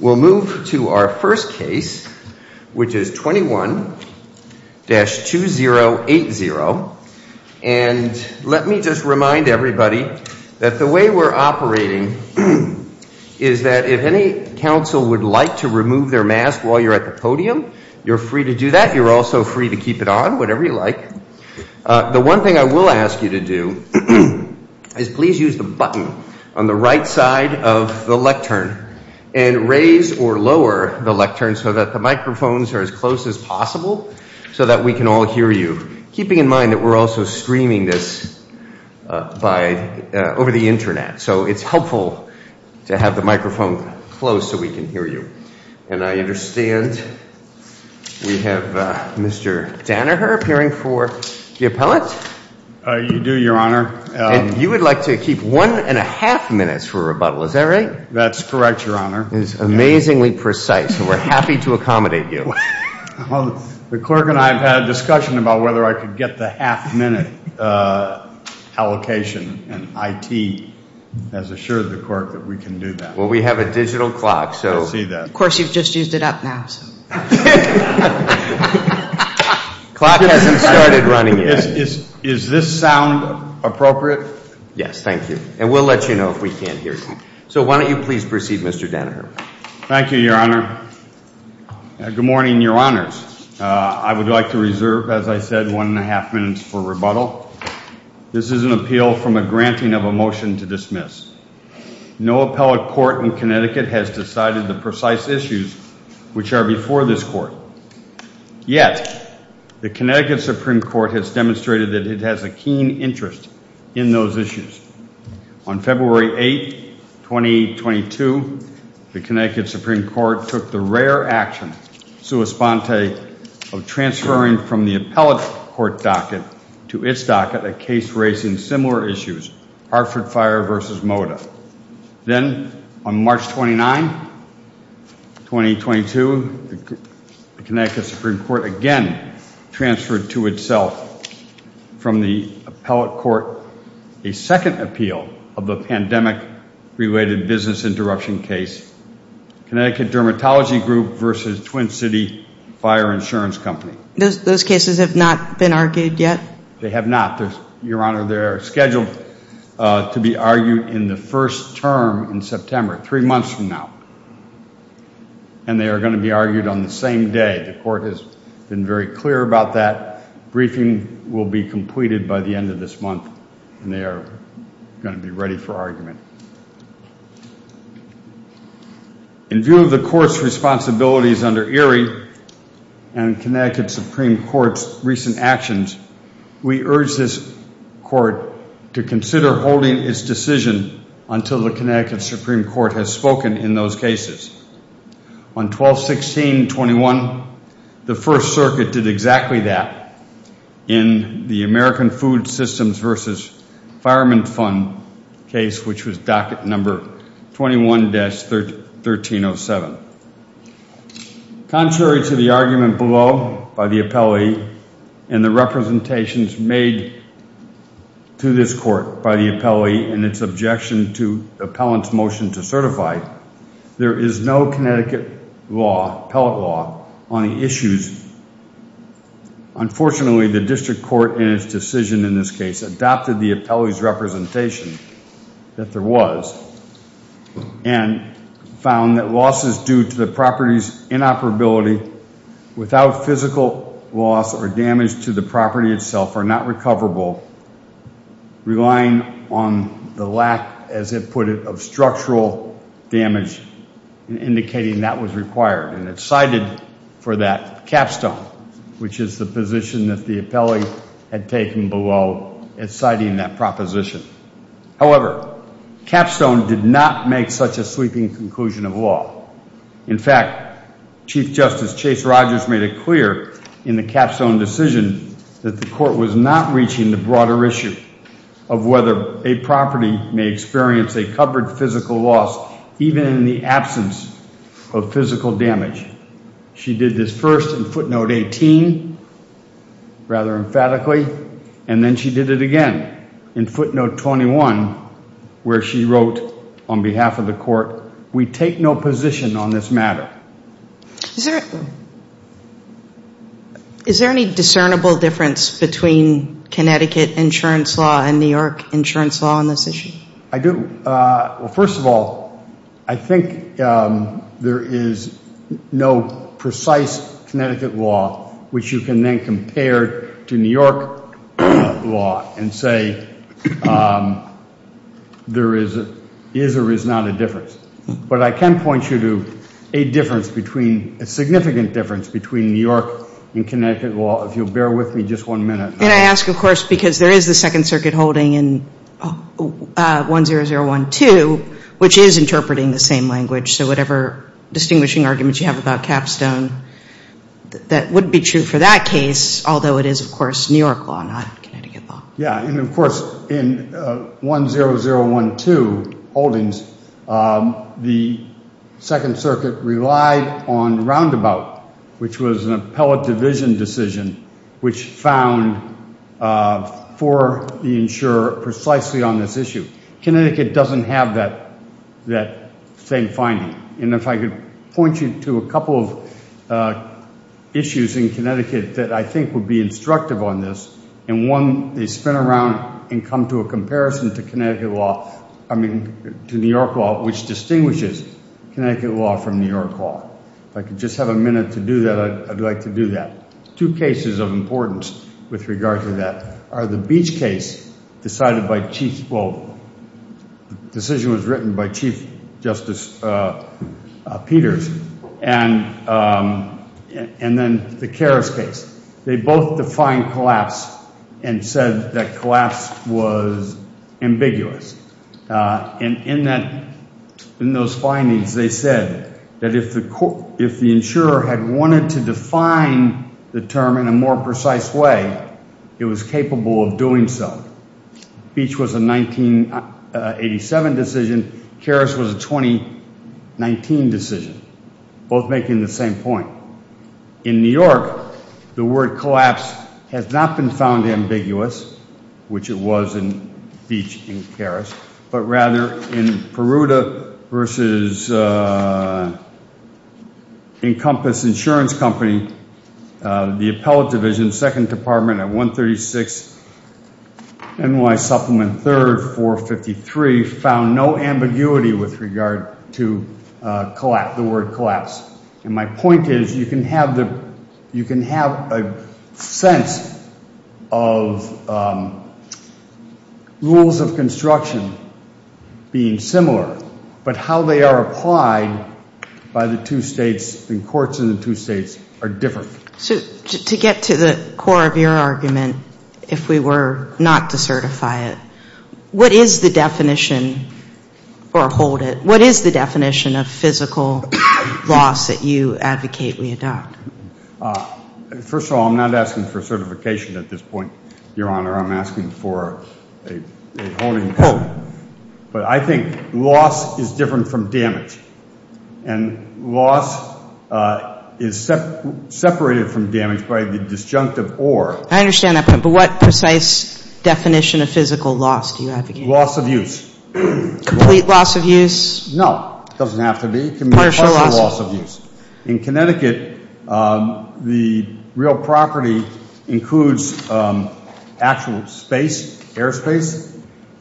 We'll move to our first case, which is 21-2080. And let me just remind everybody that the way we're operating is that if any council would like to remove their mask while you're at the podium, you're free to do that. You're also free to keep it on, whatever you like. The one thing I will ask you to do is please use the button on the right side of the lectern. And raise or lower the lectern so that the microphones are as close as possible so that we can all hear you, keeping in mind that we're also streaming this over the internet. So it's helpful to have the microphone close so we can hear you. And I understand we have Mr. Danaher appearing for the appellate. You do, Your Honor. You would like to keep one and a half minutes for rebuttal. Is that right? That's correct, Your Honor. It's amazingly precise, and we're happy to accommodate you. The clerk and I have had a discussion about whether I could get the half minute allocation, and IT has assured the clerk that we can do that. Well, we have a digital clock. I see that. Of course, you've just used it up now. Clock hasn't started running yet. Is this sound appropriate? Yes, thank you. And we'll let you know if we can't hear you. So why don't you please proceed, Mr. Danaher. Thank you, Your Honor. Good morning, Your Honors. I would like to reserve, as I said, one and a half minutes for rebuttal. This is an appeal from a granting of a motion to dismiss. No appellate court in Connecticut has decided the precise issues which are before this court. Yet the Connecticut Supreme Court has demonstrated that it has a keen interest in those issues. On February 8, 2022, the Connecticut Supreme Court took the rare action, sua sponte, of transferring from the appellate court docket to its docket a case raising similar issues, Hartford Fire v. Moda. Then on March 29, 2022, the Connecticut Supreme Court again transferred to itself from the appellate court a second appeal of the pandemic-related business interruption case, Connecticut Dermatology Group v. Twin City Fire Insurance Company. Those cases have not been argued yet? They have not, Your Honor. They're scheduled to be argued in the first term in September, three months from now. And they are going to be argued on the same day. The court has been very clear about that. Briefing will be completed by the end of this month, and they are going to be ready for argument. In view of the court's responsibilities under Erie and Connecticut Supreme Court's recent actions, we urge this court to consider holding its decision until the Connecticut Supreme Court has spoken in those cases. On 12-16-21, the First Circuit did exactly that in the American Food Systems v. Fireman Fund case, which was docket number 21-1307. Contrary to the argument below by the appellee and the representations made to this court by the appellee and its objection to the appellant's motion to certify, there is no Connecticut law, appellate law, on the issues. Unfortunately, the district court in its decision in this case adopted the appellee's representation that there was and found that losses due to the property's inoperability without physical loss or damage to the property itself are not recoverable, relying on the lack, as it put it, of structural damage in indicating that was required. And it cited for that capstone, which is the position that the appellee had taken below in citing that proposition. However, capstone did not make such a sweeping conclusion of law. In fact, Chief Justice Chase Rogers made it clear in the capstone decision that the court was not reaching the broader issue of whether a property may experience a covered physical loss even in the absence of physical damage. She did this first in footnote 18, rather emphatically, and then she did it again in footnote 21, where she wrote on behalf of the court, we take no position on this matter. Is there any discernible difference between Connecticut insurance law and New York insurance law on this issue? I do. Well, first of all, I think there is no precise Connecticut law which you can then compare to New York law and say there is or is not a difference. But I can point you to a difference between, a significant difference between New York and Connecticut law if you'll bear with me just one minute. And I ask, of course, because there is the Second Circuit holding in 10012, which is interpreting the same language. So whatever distinguishing arguments you have about capstone, that wouldn't be true for that case, although it is, of course, New York law, not Connecticut law. Yeah, and of course, in 10012 holdings, the Second Circuit relied on roundabout, which was an appellate division decision, which found for the insurer precisely on this issue. Connecticut doesn't have that same finding. And if I could point you to a couple of issues in Connecticut that I think would be instructive on this, and one they spin around and come to a comparison to Connecticut law, I mean to New York law, which distinguishes Connecticut law from New York law. If I could just have a minute to do that, I'd like to do that. Two cases of importance with regard to that are the Beach case decided by Chief, well, the decision was written by Chief Justice Peters and then the Karras case. They both defined collapse and said that collapse was ambiguous. And in those findings, they said that if the insurer had wanted to define the term in a more precise way, it was capable of doing so. Beach was a 1987 decision. Karras was a 2019 decision, both making the same point. In New York, the word collapse has not been found ambiguous, which it was in Beach and Karras, but rather in Peruta versus Encompass Insurance Company, the appellate division, second department at 136, NY supplement third, 453, found no ambiguity with regard to collapse, the word collapse. And my point is you can have a sense of rules of construction being similar, but how they are applied by the two states, the courts in the two states, are different. So to get to the core of your argument, if we were not to certify it, what is the definition, or hold it, what is the definition of physical loss that you advocate we adopt? First of all, I'm not asking for certification at this point, Your Honor, I'm asking for a holding penalty. But I think loss is different from damage. And loss is separated from damage by the disjunctive or. I understand that, but what precise definition of physical loss do you advocate? Loss of use. Complete loss of use? No, it doesn't have to be, it can be partial loss of use. In Connecticut, the real property includes actual space, airspace,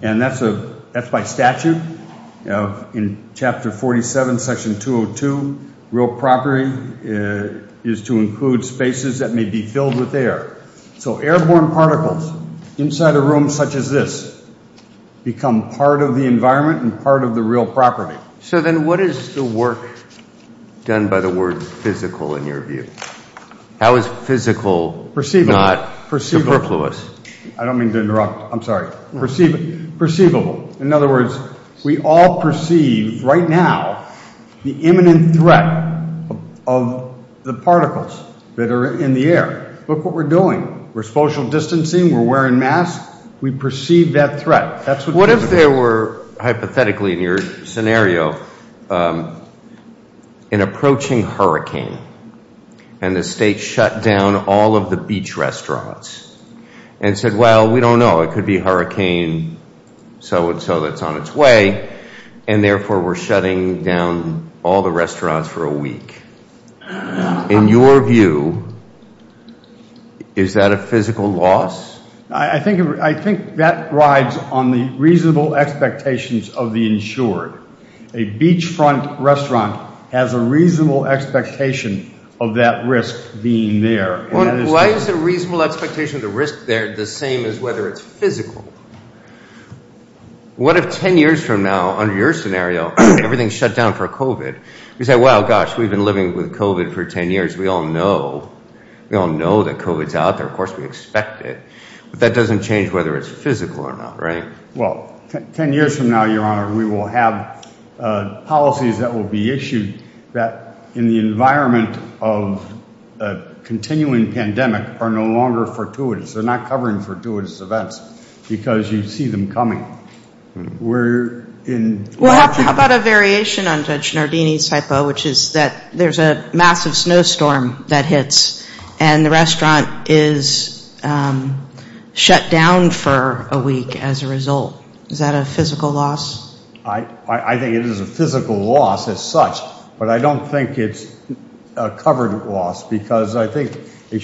and that's by statute. In Chapter 47, Section 202, real property is to include spaces that may be filled with air. So airborne particles inside a room such as this become part of the environment and part of the real property. So then what is the work done by the word physical in your view? How is physical not superfluous? I don't mean to interrupt. I'm sorry, perceivable. In other words, we all perceive right now the imminent threat of the particles that are in the air. Look what we're doing. We're social distancing. We're wearing masks. We perceive that threat. That's what. What if there were, hypothetically in your scenario, an approaching hurricane and the state shut down all of the beach restaurants and said, well, we don't know. It could be hurricane so and so that's on its way. And therefore, we're shutting down all the restaurants for a week. In your view, is that a physical loss? I think that rides on the reasonable expectations of the insured. A beachfront restaurant has a reasonable expectation of that risk being there. Why is the reasonable expectation of the risk there the same as whether it's physical? What if 10 years from now, under your scenario, everything's shut down for COVID? You say, well, gosh, we've been living with COVID for 10 years. We all know. We all know that COVID's out there. Of course, we expect it. But that doesn't change whether it's physical or not, right? Well, 10 years from now, your honor, we will have policies that will be issued that in the environment of a continuing pandemic are no longer fortuitous. They're not covering fortuitous events because you see them coming. Well, how about a variation on Judge Nardini's hypo, which is that there's a massive snowstorm that hits and the restaurant is shut down for a week as a result. Is that a physical loss? I think it is a physical loss as such, but I don't think it's a covered loss because I think a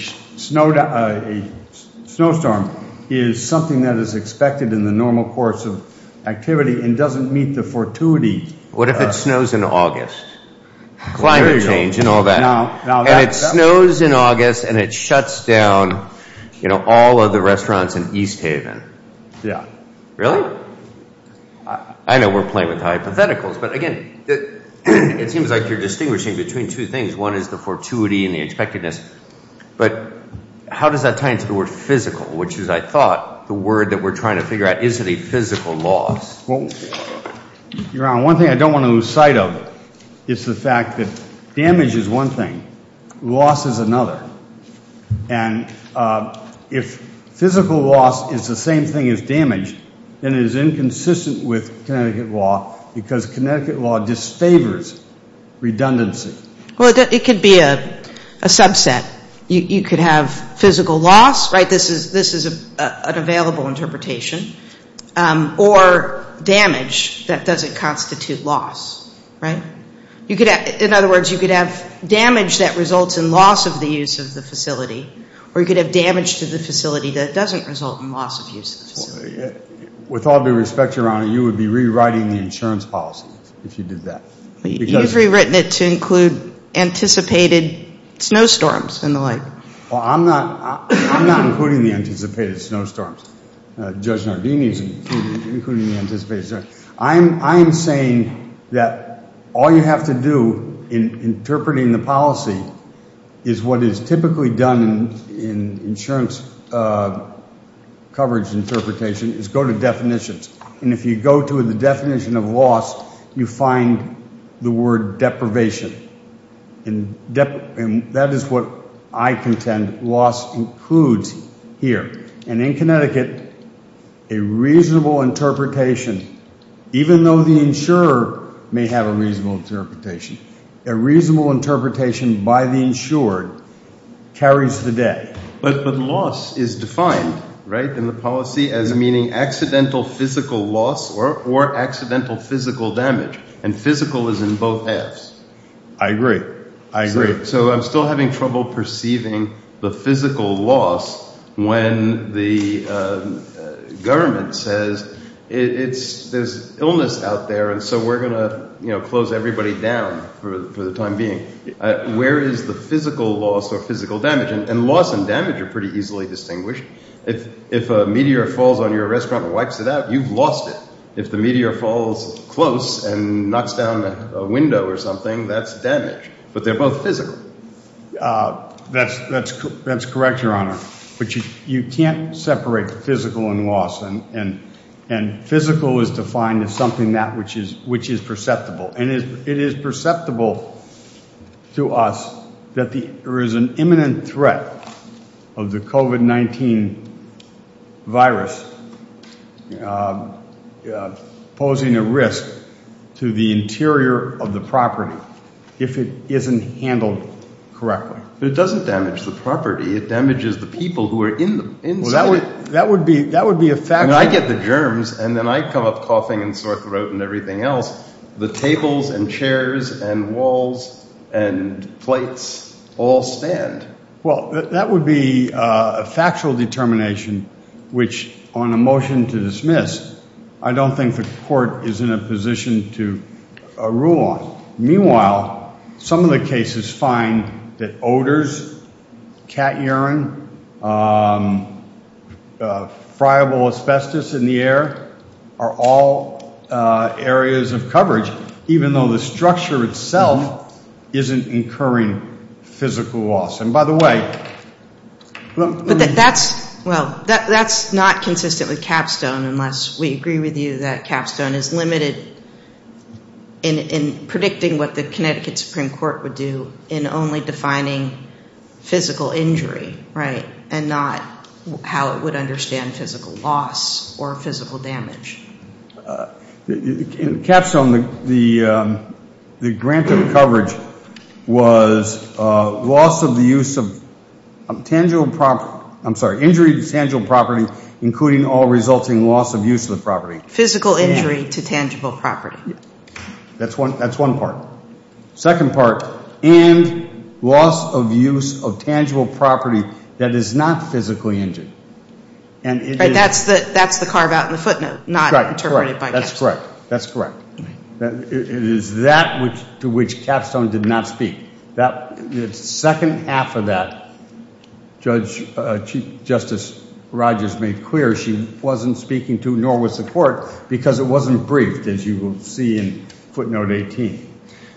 snowstorm is something that is expected in the normal course of activity and doesn't meet the fortuity. What if it snows in August? Climate change and all that. And it snows in August and it shuts down all of the restaurants in East Haven. Yeah. Really? I know we're playing with hypotheticals, but again, it seems like you're distinguishing between two things. One is the fortuity and the expectedness. But how does that tie into the word physical, which is, I thought, the word that we're trying to figure out. Is it a physical loss? Well, Your Honor, one thing I don't want to lose sight of is the fact that damage is one thing. Loss is another. And if physical loss is the same thing as damage, then it is inconsistent with Connecticut law because Connecticut law disfavors redundancy. Well, it could be a subset. You could have physical loss, right? This is an available interpretation. Or damage that doesn't constitute loss, right? In other words, you could have damage that results in loss of the use of the facility, or you could have damage to the facility that doesn't result in loss of use of the facility. With all due respect, Your Honor, you would be rewriting the insurance policy if you did that. You've rewritten it to include anticipated snowstorms and the like. Well, I'm not including the anticipated snowstorms. Judge Nardini is including the anticipated snowstorms. I am saying that all you have to do in interpreting the policy is what is typically done in insurance coverage interpretation is go to definitions. And if you go to the definition of loss, you find the word deprivation. And that is what I contend loss includes here. And in Connecticut, a reasonable interpretation, even though the insurer may have a reasonable interpretation, a reasonable interpretation by the insured carries the debt. But loss is defined, right, in the policy as meaning accidental physical loss or accidental physical damage. And physical is in both halves. I agree. I agree. So I'm still having trouble perceiving the physical loss when the government says there's illness out there and so we're going to close everybody down for the time being. Where is the physical loss or physical damage? And loss and damage are pretty easily distinguished. If a meteor falls on your restaurant and wipes it out, you've lost it. If the meteor falls close and knocks down a window or something, that's damage. But they're both physical. That's correct, Your Honor. But you can't separate physical and loss. And physical is defined as something that which is perceptible. And it is perceptible to us that there is an imminent threat of the COVID-19 virus. You know, posing a risk to the interior of the property if it isn't handled correctly. But it doesn't damage the property. It damages the people who are in them. Well, that would be that would be a fact. I get the germs and then I come up coughing and sore throat and everything else. The tables and chairs and walls and plates all stand. Well, that would be a factual determination, which on a motion to dismiss, I don't think the court is in a position to rule on. Meanwhile, some of the cases find that odors, cat urine, friable asbestos in the air are all areas of coverage, even though the structure itself isn't incurring physical loss. And by the way... Well, that's not consistent with Capstone unless we agree with you that Capstone is limited in predicting what the Connecticut Supreme Court would do in only defining physical injury, right, and not how it would understand physical loss or physical damage. In Capstone, the grant of coverage was loss of the use of tangible property, I'm sorry, injury to tangible property, including all resulting loss of use of the property. Physical injury to tangible property. That's one part. Second part, and loss of use of tangible property that is not physically injured. Right, that's the carve out in the footnote, not terminated by Capstone. That's correct. That's correct. It is that to which Capstone did not speak. The second half of that, Chief Justice Rogers made clear she wasn't speaking to, nor was the court, because it wasn't briefed, as you will see in footnote 18.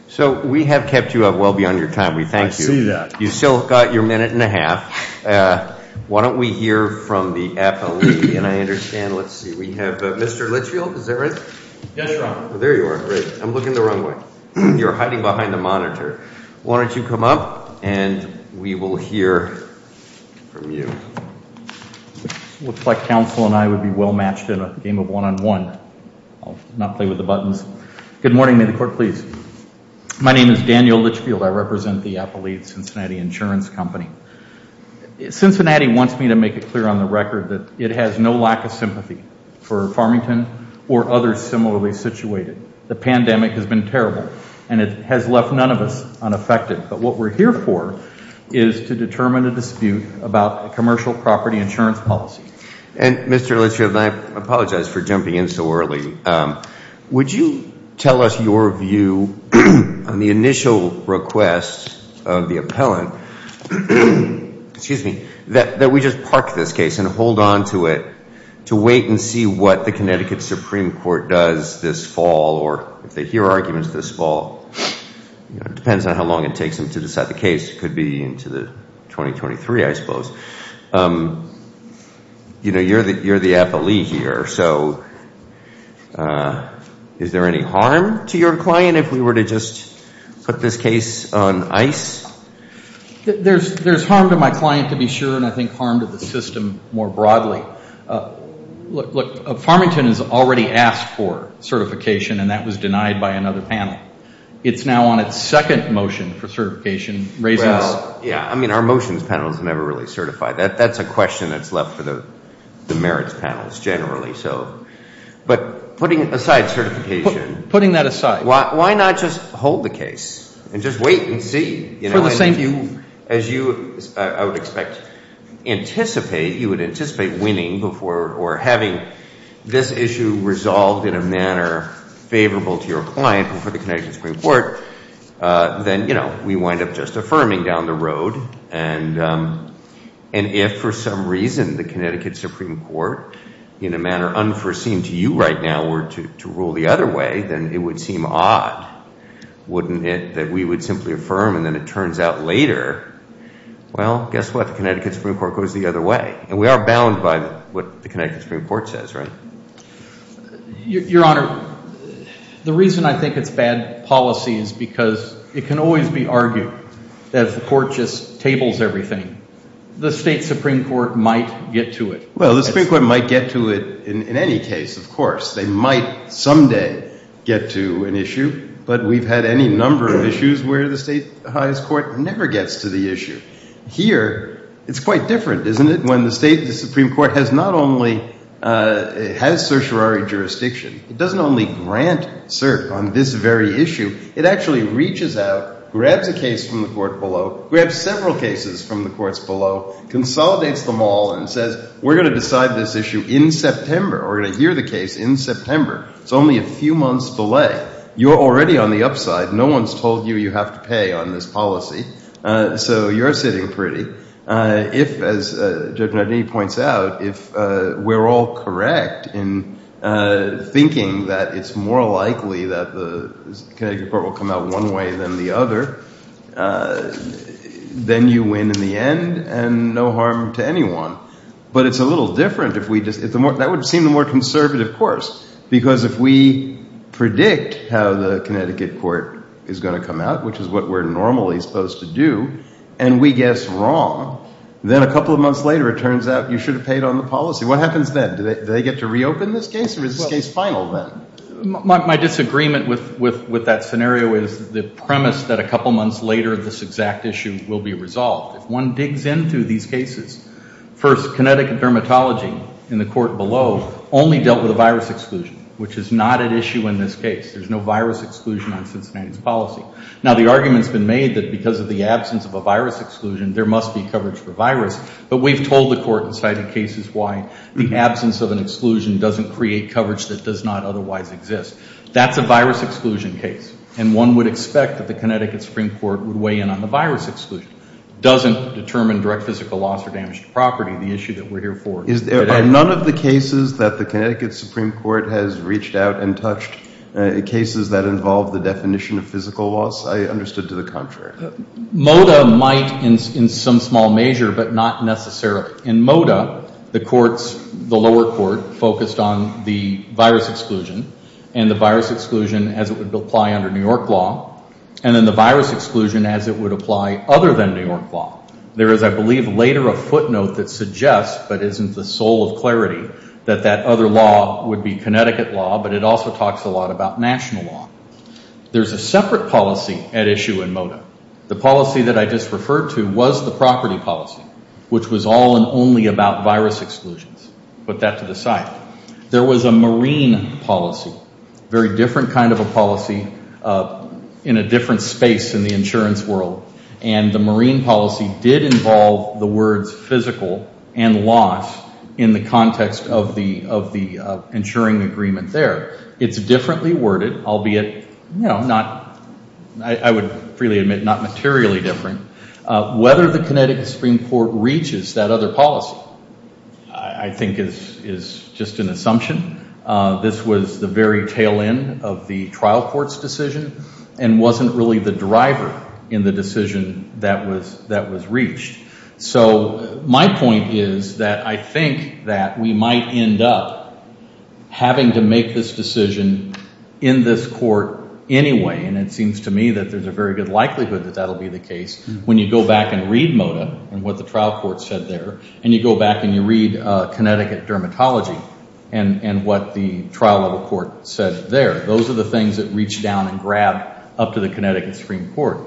So we have kept you up well beyond your time. We thank you. I see that. You still got your minute and a half. Why don't we hear from the appellee? And I understand, let's see, we have Mr. Litchfield, is that right? Yes, Your Honor. There you are. I'm looking the wrong way. You're hiding behind the monitor. Why don't you come up and we will hear from you. Looks like counsel and I would be well matched in a game of one-on-one. I'll not play with the buttons. Good morning. May the court please. My name is Daniel Litchfield. I represent the Appellee at Cincinnati Insurance Company. Cincinnati wants me to make it clear on the record that it has no lack of sympathy for Farmington or others similarly situated. The pandemic has been terrible and it has left none of us unaffected. But what we're here for is to determine a dispute about commercial property insurance policy. And Mr. Litchfield, I apologize for jumping in so early. Would you tell us your view on the initial request of the appellant that we just park this case and hold on to it to wait and see what the Connecticut Supreme Court does this fall or if they hear arguments this fall. It depends on how long it takes them to decide the case. It could be into the 2023, I suppose. You know, you're the appellee here. So is there any harm to your client if we were to just put this case on ice? There's harm to my client, to be sure, and I think harm to the system more broadly. Look, Farmington has already asked for certification and that was denied by another panel. It's now on its second motion for certification raising this. Yeah, I mean, our motions panel has never really certified. That's a question that's left for the merits panels generally. But putting aside certification. Putting that aside. Why not just hold the case and just wait and see? For the same view. As you, I would expect, anticipate, you would anticipate winning before or having this issue resolved in a manner favorable to your client and for the Connecticut Supreme Court, then, you know, we wind up just affirming down the road. And if for some reason the Connecticut Supreme Court in a manner unforeseen to you right now were to rule the other way, then it would seem odd, wouldn't it, that we would simply affirm and then it turns out later, well, guess what? The Connecticut Supreme Court goes the other way. And we are bound by what the Connecticut Supreme Court says, right? Your Honor, the reason I think it's bad policy is because it can always be argued that if the court just tables everything, the state Supreme Court might get to it. Well, the Supreme Court might get to it in any case, of course. They might someday get to an issue. But we've had any number of issues where the state highest court never gets to the issue. Here, it's quite different, isn't it? When the state, the Supreme Court has not only, it has certiorari jurisdiction. It doesn't only grant cert on this very issue. It actually reaches out, grabs a case from the court below, grabs several cases from the courts below, consolidates them all and says, we're going to decide this issue in September. We're going to hear the case in September. It's only a few months delay. You're already on the upside. No one's told you you have to pay on this policy. So you're sitting pretty. If, as Judge Nardini points out, if we're all correct in thinking that it's more likely that the Connecticut court will come out one way than the other, then you win in the end and no harm to anyone. But it's a little different if we just, that would seem the more conservative course. Because if we predict how the Connecticut court is going to come out, which is what we're normally supposed to do, and we guess wrong, then a couple of months later, it turns out you should have paid on the policy. What happens then? Do they get to reopen this case or is this case final then? My disagreement with that scenario is the premise that a couple months later, this exact issue will be resolved. If one digs into these cases, first, Connecticut dermatology in the court below only dealt with a virus exclusion, which is not at issue in this case. There's no virus exclusion on Cincinnati's policy. Now, the argument's been made that because of the absence of a virus exclusion, there must be coverage for virus. But we've told the court in cited cases why the absence of an exclusion doesn't create coverage that does not otherwise exist. That's a virus exclusion case. And one would expect that the Connecticut Supreme Court would weigh in on the virus exclusion. Doesn't determine direct physical loss or damage to property, the issue that we're here for. Are none of the cases that the Connecticut Supreme Court has reached out and touched cases that involve the definition of physical loss? I understood to the contrary. MODA might in some small measure, but not necessarily. In MODA, the courts, the lower court focused on the virus exclusion and the virus exclusion as it would apply under New York law. And then the virus exclusion as it would apply other than New York law. There is, I believe, later a footnote that suggests, but isn't the sole of clarity, that that other law would be Connecticut law, but it also talks a lot about national law. There's a separate policy at issue in MODA. The policy that I just referred to was the property policy, which was all and only about virus exclusions. Put that to the side. There was a marine policy. Very different kind of a policy in a different space in the insurance world. And the marine policy did involve the words physical and loss in the context of the insuring agreement there. It's differently worded, albeit not, I would freely admit, not materially different. Whether the Connecticut Supreme Court reaches that other policy, I think is just an assumption. This was the very tail end of the trial court's decision and wasn't really the driver in the decision that was reached. So my point is that I think that we might end up having to make this decision in this court anyway. And it seems to me that there's a very good likelihood that that'll be the case when you go back and read MODA and what the trial court said there. And you go back and you read Connecticut dermatology and what the trial level court said there. Those are the things that reached down and grabbed up to the Connecticut Supreme Court.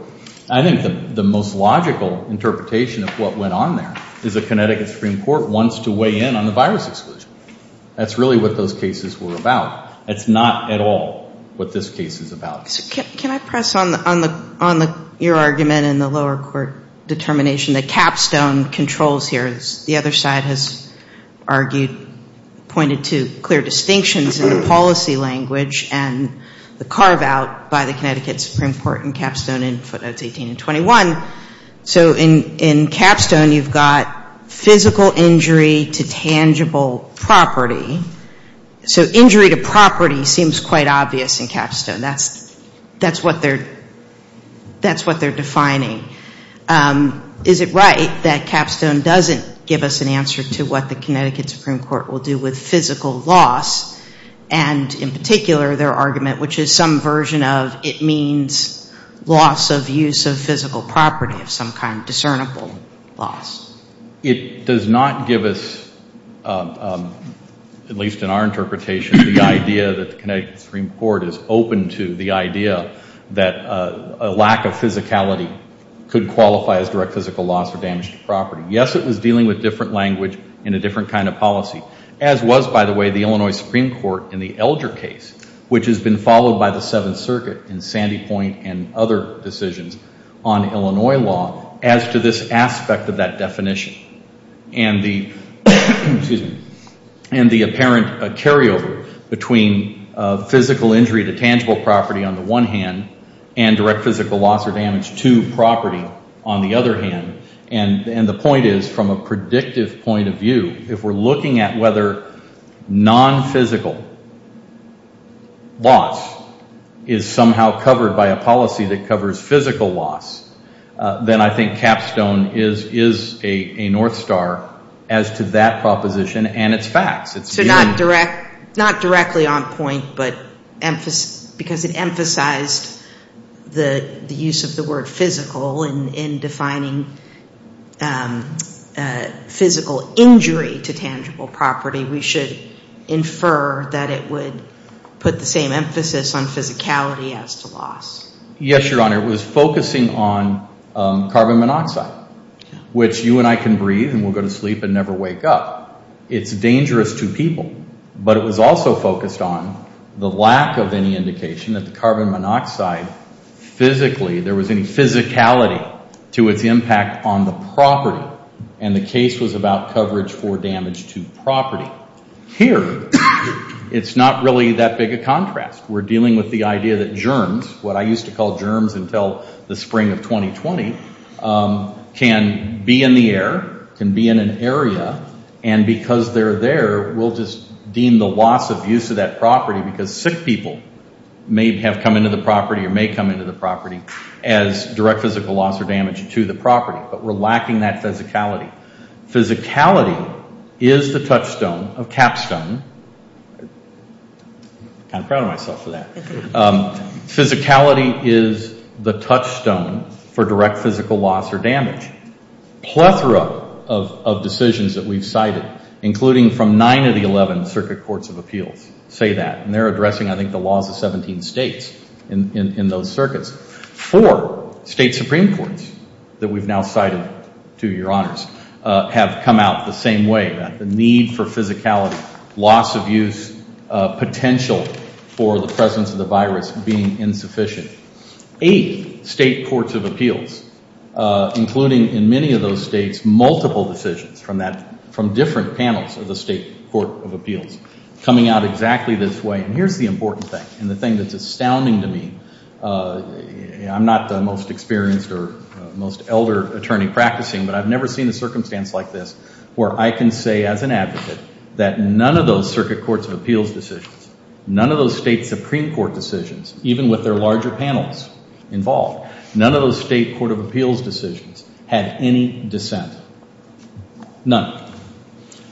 I think the most logical interpretation of what went on there is the Connecticut Supreme Court wants to weigh in on the virus exclusion. That's really what those cases were about. It's not at all what this case is about. Can I press on your argument in the lower court determination that capstone controls here, as the other side has argued, pointed to clear distinctions in the policy language and the carve out by the Connecticut Supreme Court in capstone in footnotes 18 and 21. So in capstone you've got physical injury to tangible property. So injury to property seems quite obvious in capstone. That's what they're defining. Is it right that capstone doesn't give us an answer to what the Connecticut Supreme Court will do with physical loss? And in particular their argument, which is some version of it means loss of use of physical property of some kind, discernible loss. It does not give us, at least in our interpretation, the idea that the Connecticut Supreme Court is open to the idea that a lack of physicality could qualify as direct physical loss or damage to property. Yes, it was dealing with different language and a different kind of policy, as was, by the way, the Illinois Supreme Court in the Elder case, which has been followed by the Seventh Circuit and Sandy Point and other decisions on Illinois law as to this aspect of that definition. And the apparent carryover between physical injury to tangible property on the one hand and direct physical loss or damage to property on the other hand and the point is from a predictive point of view, if we're looking at whether non-physical loss is somehow covered by a policy that covers physical loss, then I think capstone is a north star as to that proposition and its facts. So not directly on point, but because it emphasized the use of the word physical in defining physical injury to tangible property, we should infer that it would put the same emphasis on physicality as to loss. Yes, Your Honor. It was focusing on carbon monoxide, which you and I can breathe and we'll go to sleep and never wake up. It's dangerous to people, but it was also focused on the lack of any indication that the carbon monoxide physically, there was any physicality to its impact on the property and the case was about coverage for damage to property. Here, it's not really that big a contrast. We're dealing with the idea that germs, what I used to call germs until the spring of 2020, can be in the air, can be in an area and because they're there, we'll just deem the loss of use of that property because sick people may have come into the property or may come into the property as direct physical loss or damage to the property. But we're lacking that physicality. Physicality is the touchstone of capstone. Kind of proud of myself for that. Physicality is the touchstone for direct physical loss or damage. Plethora of decisions that we've cited, including from nine of the 11 circuit courts of appeals, say that and they're addressing, I think, the laws of 17 states in those circuits. Four state supreme courts that we've now cited, to your honors, have come out the same way about the need for physicality, loss of use, potential for the presence of the virus being insufficient. Eight state courts of appeals, including in many of those states, coming out exactly this way. And here's the important thing and the thing that's astounding to me. I'm not the most experienced or most elder attorney practicing, but I've never seen a circumstance like this where I can say as an advocate that none of those circuit courts of appeals decisions, none of those state supreme court decisions, even with their larger panels involved, none of those state court of appeals decisions had any dissent. None.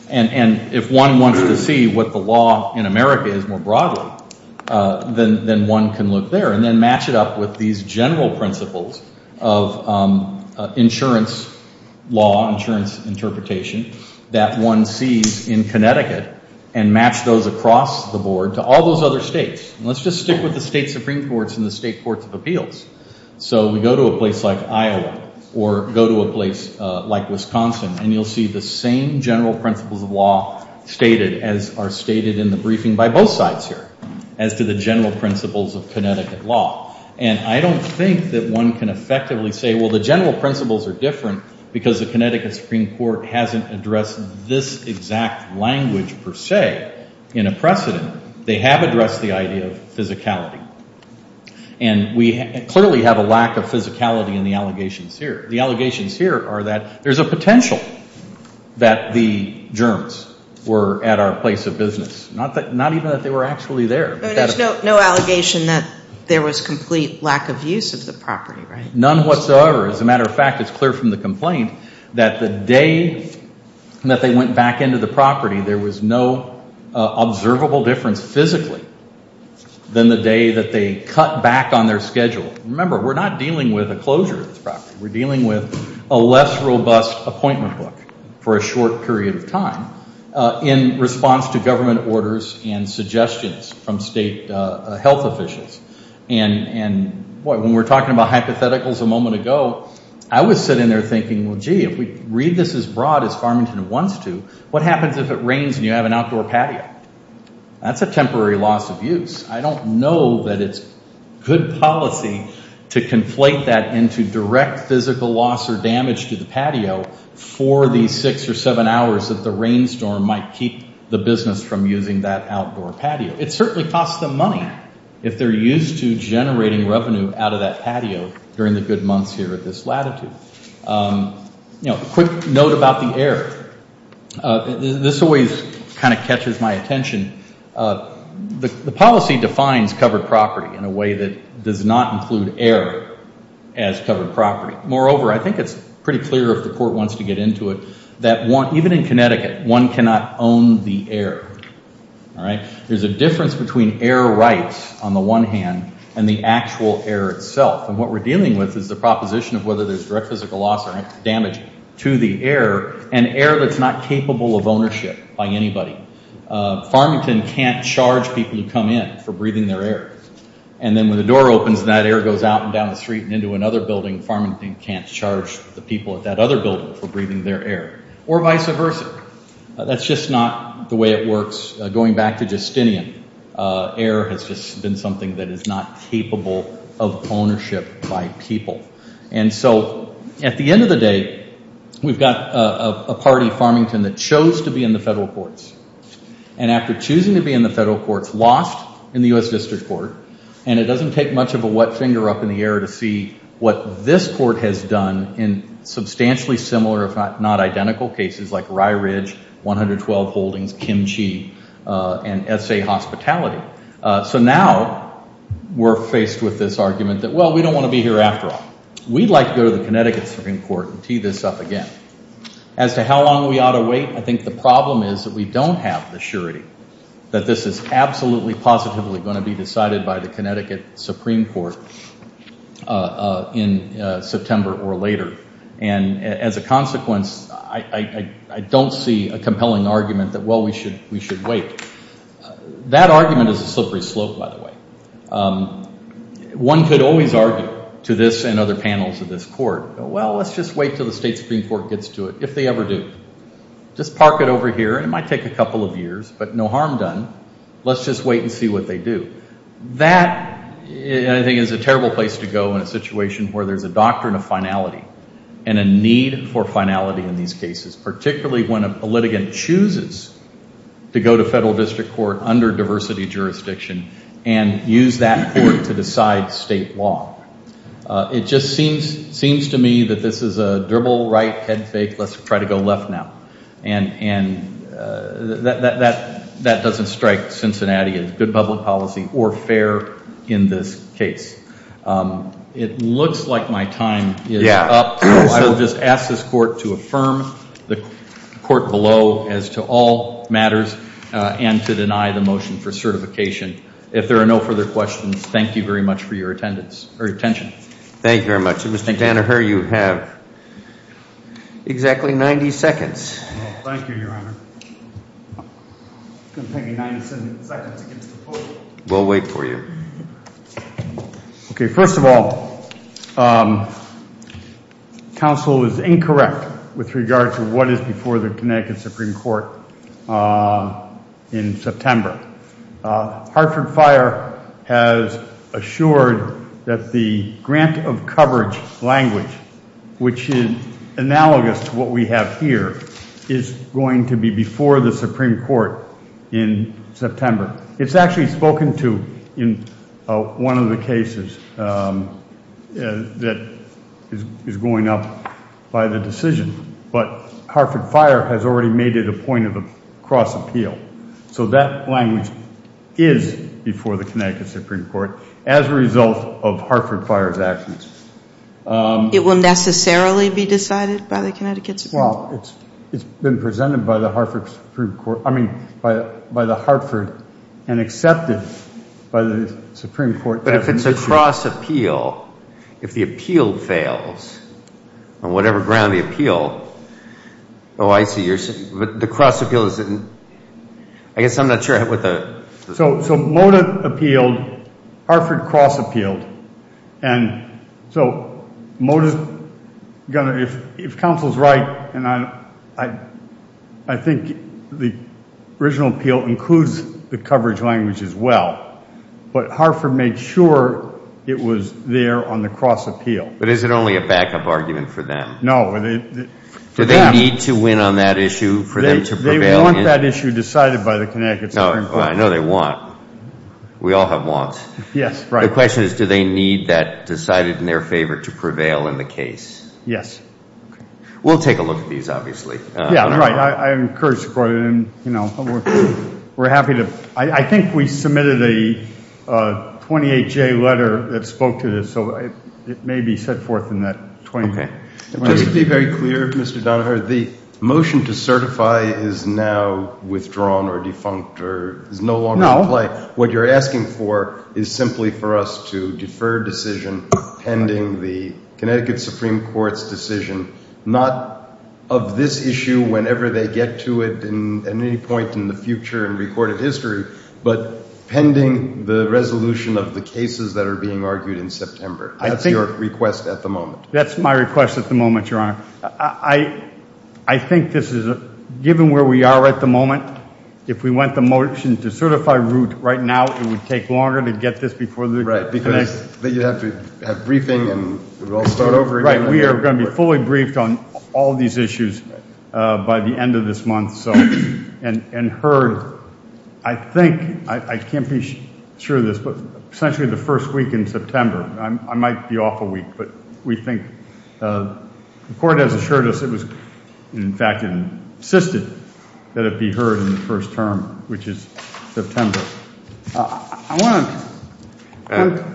And if one wants to see what the law in America is more broadly, then one can look there and then match it up with these general principles of insurance law, insurance interpretation, that one sees in Connecticut and match those across the board to all those other states. And let's just stick with the state supreme courts and the state courts of appeals. So we go to a place like Iowa or go to a place like Wisconsin and you'll see the same general principles of law stated as are stated in the briefing by both sides here as to the general principles of Connecticut law. And I don't think that one can effectively say, well, the general principles are different because the Connecticut Supreme Court hasn't addressed this exact language per se in a precedent. They have addressed the idea of physicality. And we clearly have a lack of physicality in the allegations here. The allegations here are that there's a potential that the germs were at our place of business, not even that they were actually there. But there's no allegation that there was complete lack of use of the property, right? None whatsoever. As a matter of fact, it's clear from the complaint that the day that they went back into the property, there was no observable difference physically than the day that they cut back on their schedule. Remember, we're not dealing with a closure of this property. We're dealing with a less robust appointment book for a short period of time in response to government orders and suggestions from state health officials. And when we're talking about hypotheticals a moment ago, I would sit in there thinking, well, gee, if we read this as broad as Farmington wants to, what happens if it rains and you have an outdoor patio? That's a temporary loss of use. I don't know that it's good policy to conflate that into direct physical loss or damage to the patio for these six or seven hours that the rainstorm might keep the business from using that outdoor patio. It certainly costs them money if they're used to generating revenue out of that patio during the good months here at this latitude. A quick note about the air. This always kind of catches my attention. The policy defines covered property in a way that does not include air as covered property. Moreover, I think it's pretty clear, if the court wants to get into it, that even in Connecticut, one cannot own the air. There's a difference between air rights on the one hand and the actual air itself. And what we're dealing with is the proposition of whether there's direct physical loss or damage to the air, an air that's not capable of ownership by anybody. Farmington can't charge people to come in for breathing their air. And then when the door opens, that air goes out and down the street and into another building. Farmington can't charge the people at that other building for breathing their air, or vice versa. That's just not the way it works. Going back to Justinian, air has just been something that is not capable of ownership by people. And so at the end of the day, we've got a party, Farmington, that chose to be in the federal courts. And after choosing to be in the federal courts, lost in the U.S. District Court, and it doesn't take much of a wet finger up in the air to see what this court has done in substantially similar, if not identical, cases like Rye Ridge, 112 Holdings, Kim Chi, and SA Hospitality. So now we're faced with this argument that, well, we don't want to be here after all. We'd like to go to the Connecticut Supreme Court and tee this up again. As to how long we ought to wait, I think the problem is that we don't have the surety that this is absolutely positively going to be decided by the Connecticut Supreme Court in September or later. And as a consequence, I don't see a compelling argument that, well, we should wait. That argument is a slippery slope, by the way. One could always argue to this and other panels of this court, well, let's just wait till the state Supreme Court gets to it, if they ever do. Just park it over here, and it might take a couple of years, but no harm done. Let's just wait and see what they do. That, I think, is a terrible place to go in a situation where there's a doctrine of finality and a need for finality in these cases, particularly when a litigant chooses to go to federal district court under diversity jurisdiction and use that court to decide state law. It just seems to me that this is a dribble, right, head fake, let's try to go left now. And that doesn't strike Cincinnati as good public policy or fair in this case. It looks like my time is up, so I will just ask this court to affirm the court below as to all matters and to deny the motion for certification. If there are no further questions, thank you very much for your attention. Thank you very much. Mr. Tanneher, you have exactly 90 seconds. Thank you, Your Honor. It's going to take me 90 seconds against the clock. We'll wait for you. Okay, first of all, counsel is incorrect with regards to what is before the Connecticut Supreme Court in September. Hartford Fire has assured that the grant of coverage language, which is analogous to what we have here, is going to be before the Supreme Court in September. It's actually spoken to in one of the cases that is going up by the decision, but Hartford Fire has already made it a point of the cross appeal. So that language is before the Connecticut Supreme Court as a result of Hartford Fire's actions. It will necessarily be decided by the Connecticut Supreme Court? Well, it's been presented by the Hartford Supreme Court, I mean, by the Hartford and accepted by the Supreme Court. But if it's a cross appeal, if the appeal fails on whatever ground the appeal, oh, I see, but the cross appeal is in... I guess I'm not sure what the... So Mota appealed, Hartford cross appealed, and so Mota's going to... And I think the original appeal includes the coverage language as well, but Hartford made sure it was there on the cross appeal. But is it only a backup argument for them? No. Do they need to win on that issue for them to prevail? They want that issue decided by the Connecticut Supreme Court. I know they want. We all have wants. Yes, right. The question is, do they need that decided in their favor to prevail in the case? Yes. We'll take a look at these, obviously. Yeah, right. I encourage support, and we're happy to... I think we submitted a 28-J letter that spoke to this, so it may be set forth in that 28-J. Just to be very clear, Mr. Donohue, the motion to certify is now withdrawn or defunct or is no longer in play. What you're asking for is simply for us to defer decision pending the Connecticut Supreme Court's decision, not of this issue whenever they get to it at any point in the future in recorded history, but pending the resolution of the cases that are being argued in September. That's your request at the moment. That's my request at the moment, Your Honor. I think this is, given where we are at the moment, if we went the motion to certify route right now, it would take longer to get this before the next... That you'd have to have briefing, and it would all start over again. Right. We are going to be fully briefed on all of these issues by the end of this month, and heard, I think, I can't be sure of this, but essentially the first week in September. I might be off a week, but we think... The court has assured us it was, in fact, it insisted that it be heard in the first term, which is September. I want to...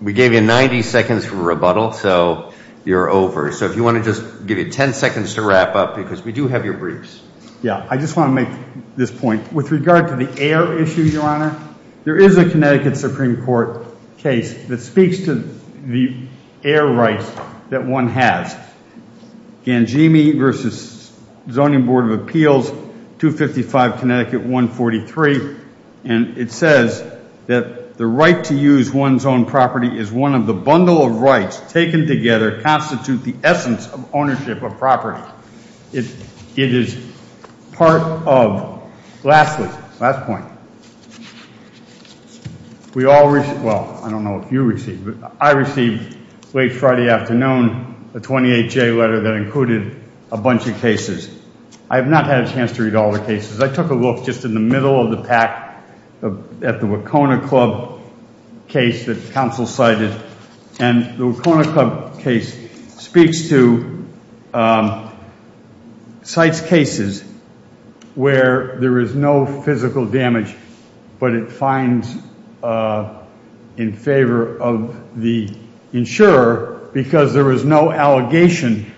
We gave you 90 seconds for rebuttal, so you're over. So if you want to just give you 10 seconds to wrap up, because we do have your briefs. Yeah, I just want to make this point. With regard to the air issue, Your Honor, there is a Connecticut Supreme Court case that speaks to the air rights that one has. Gangemi versus Zoning Board of Appeals, 255 Connecticut 143, and it says that the right to use one's own property is one of the bundle of rights taken together constitute the essence of ownership of property. It is part of... Lastly, last point. We all received... Well, I don't know if you received, but I received late Friday afternoon a 28-J letter that included a bunch of cases. I have not had a chance to read all the cases. I took a look just in the middle of the pack at the Wacona Club case that counsel cited, and the Wacona Club case speaks to... Cites cases where there is no physical damage, but it finds in favor of the insurer because there is no allegation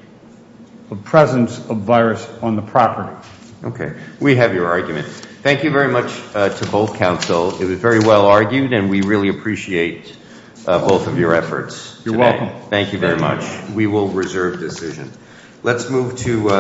of presence of virus on the property. Okay, we have your argument. Thank you very much to both counsel. It was very well argued, and we really appreciate both of your efforts. You're welcome. Thank you very much. We will reserve decision. Let's move to...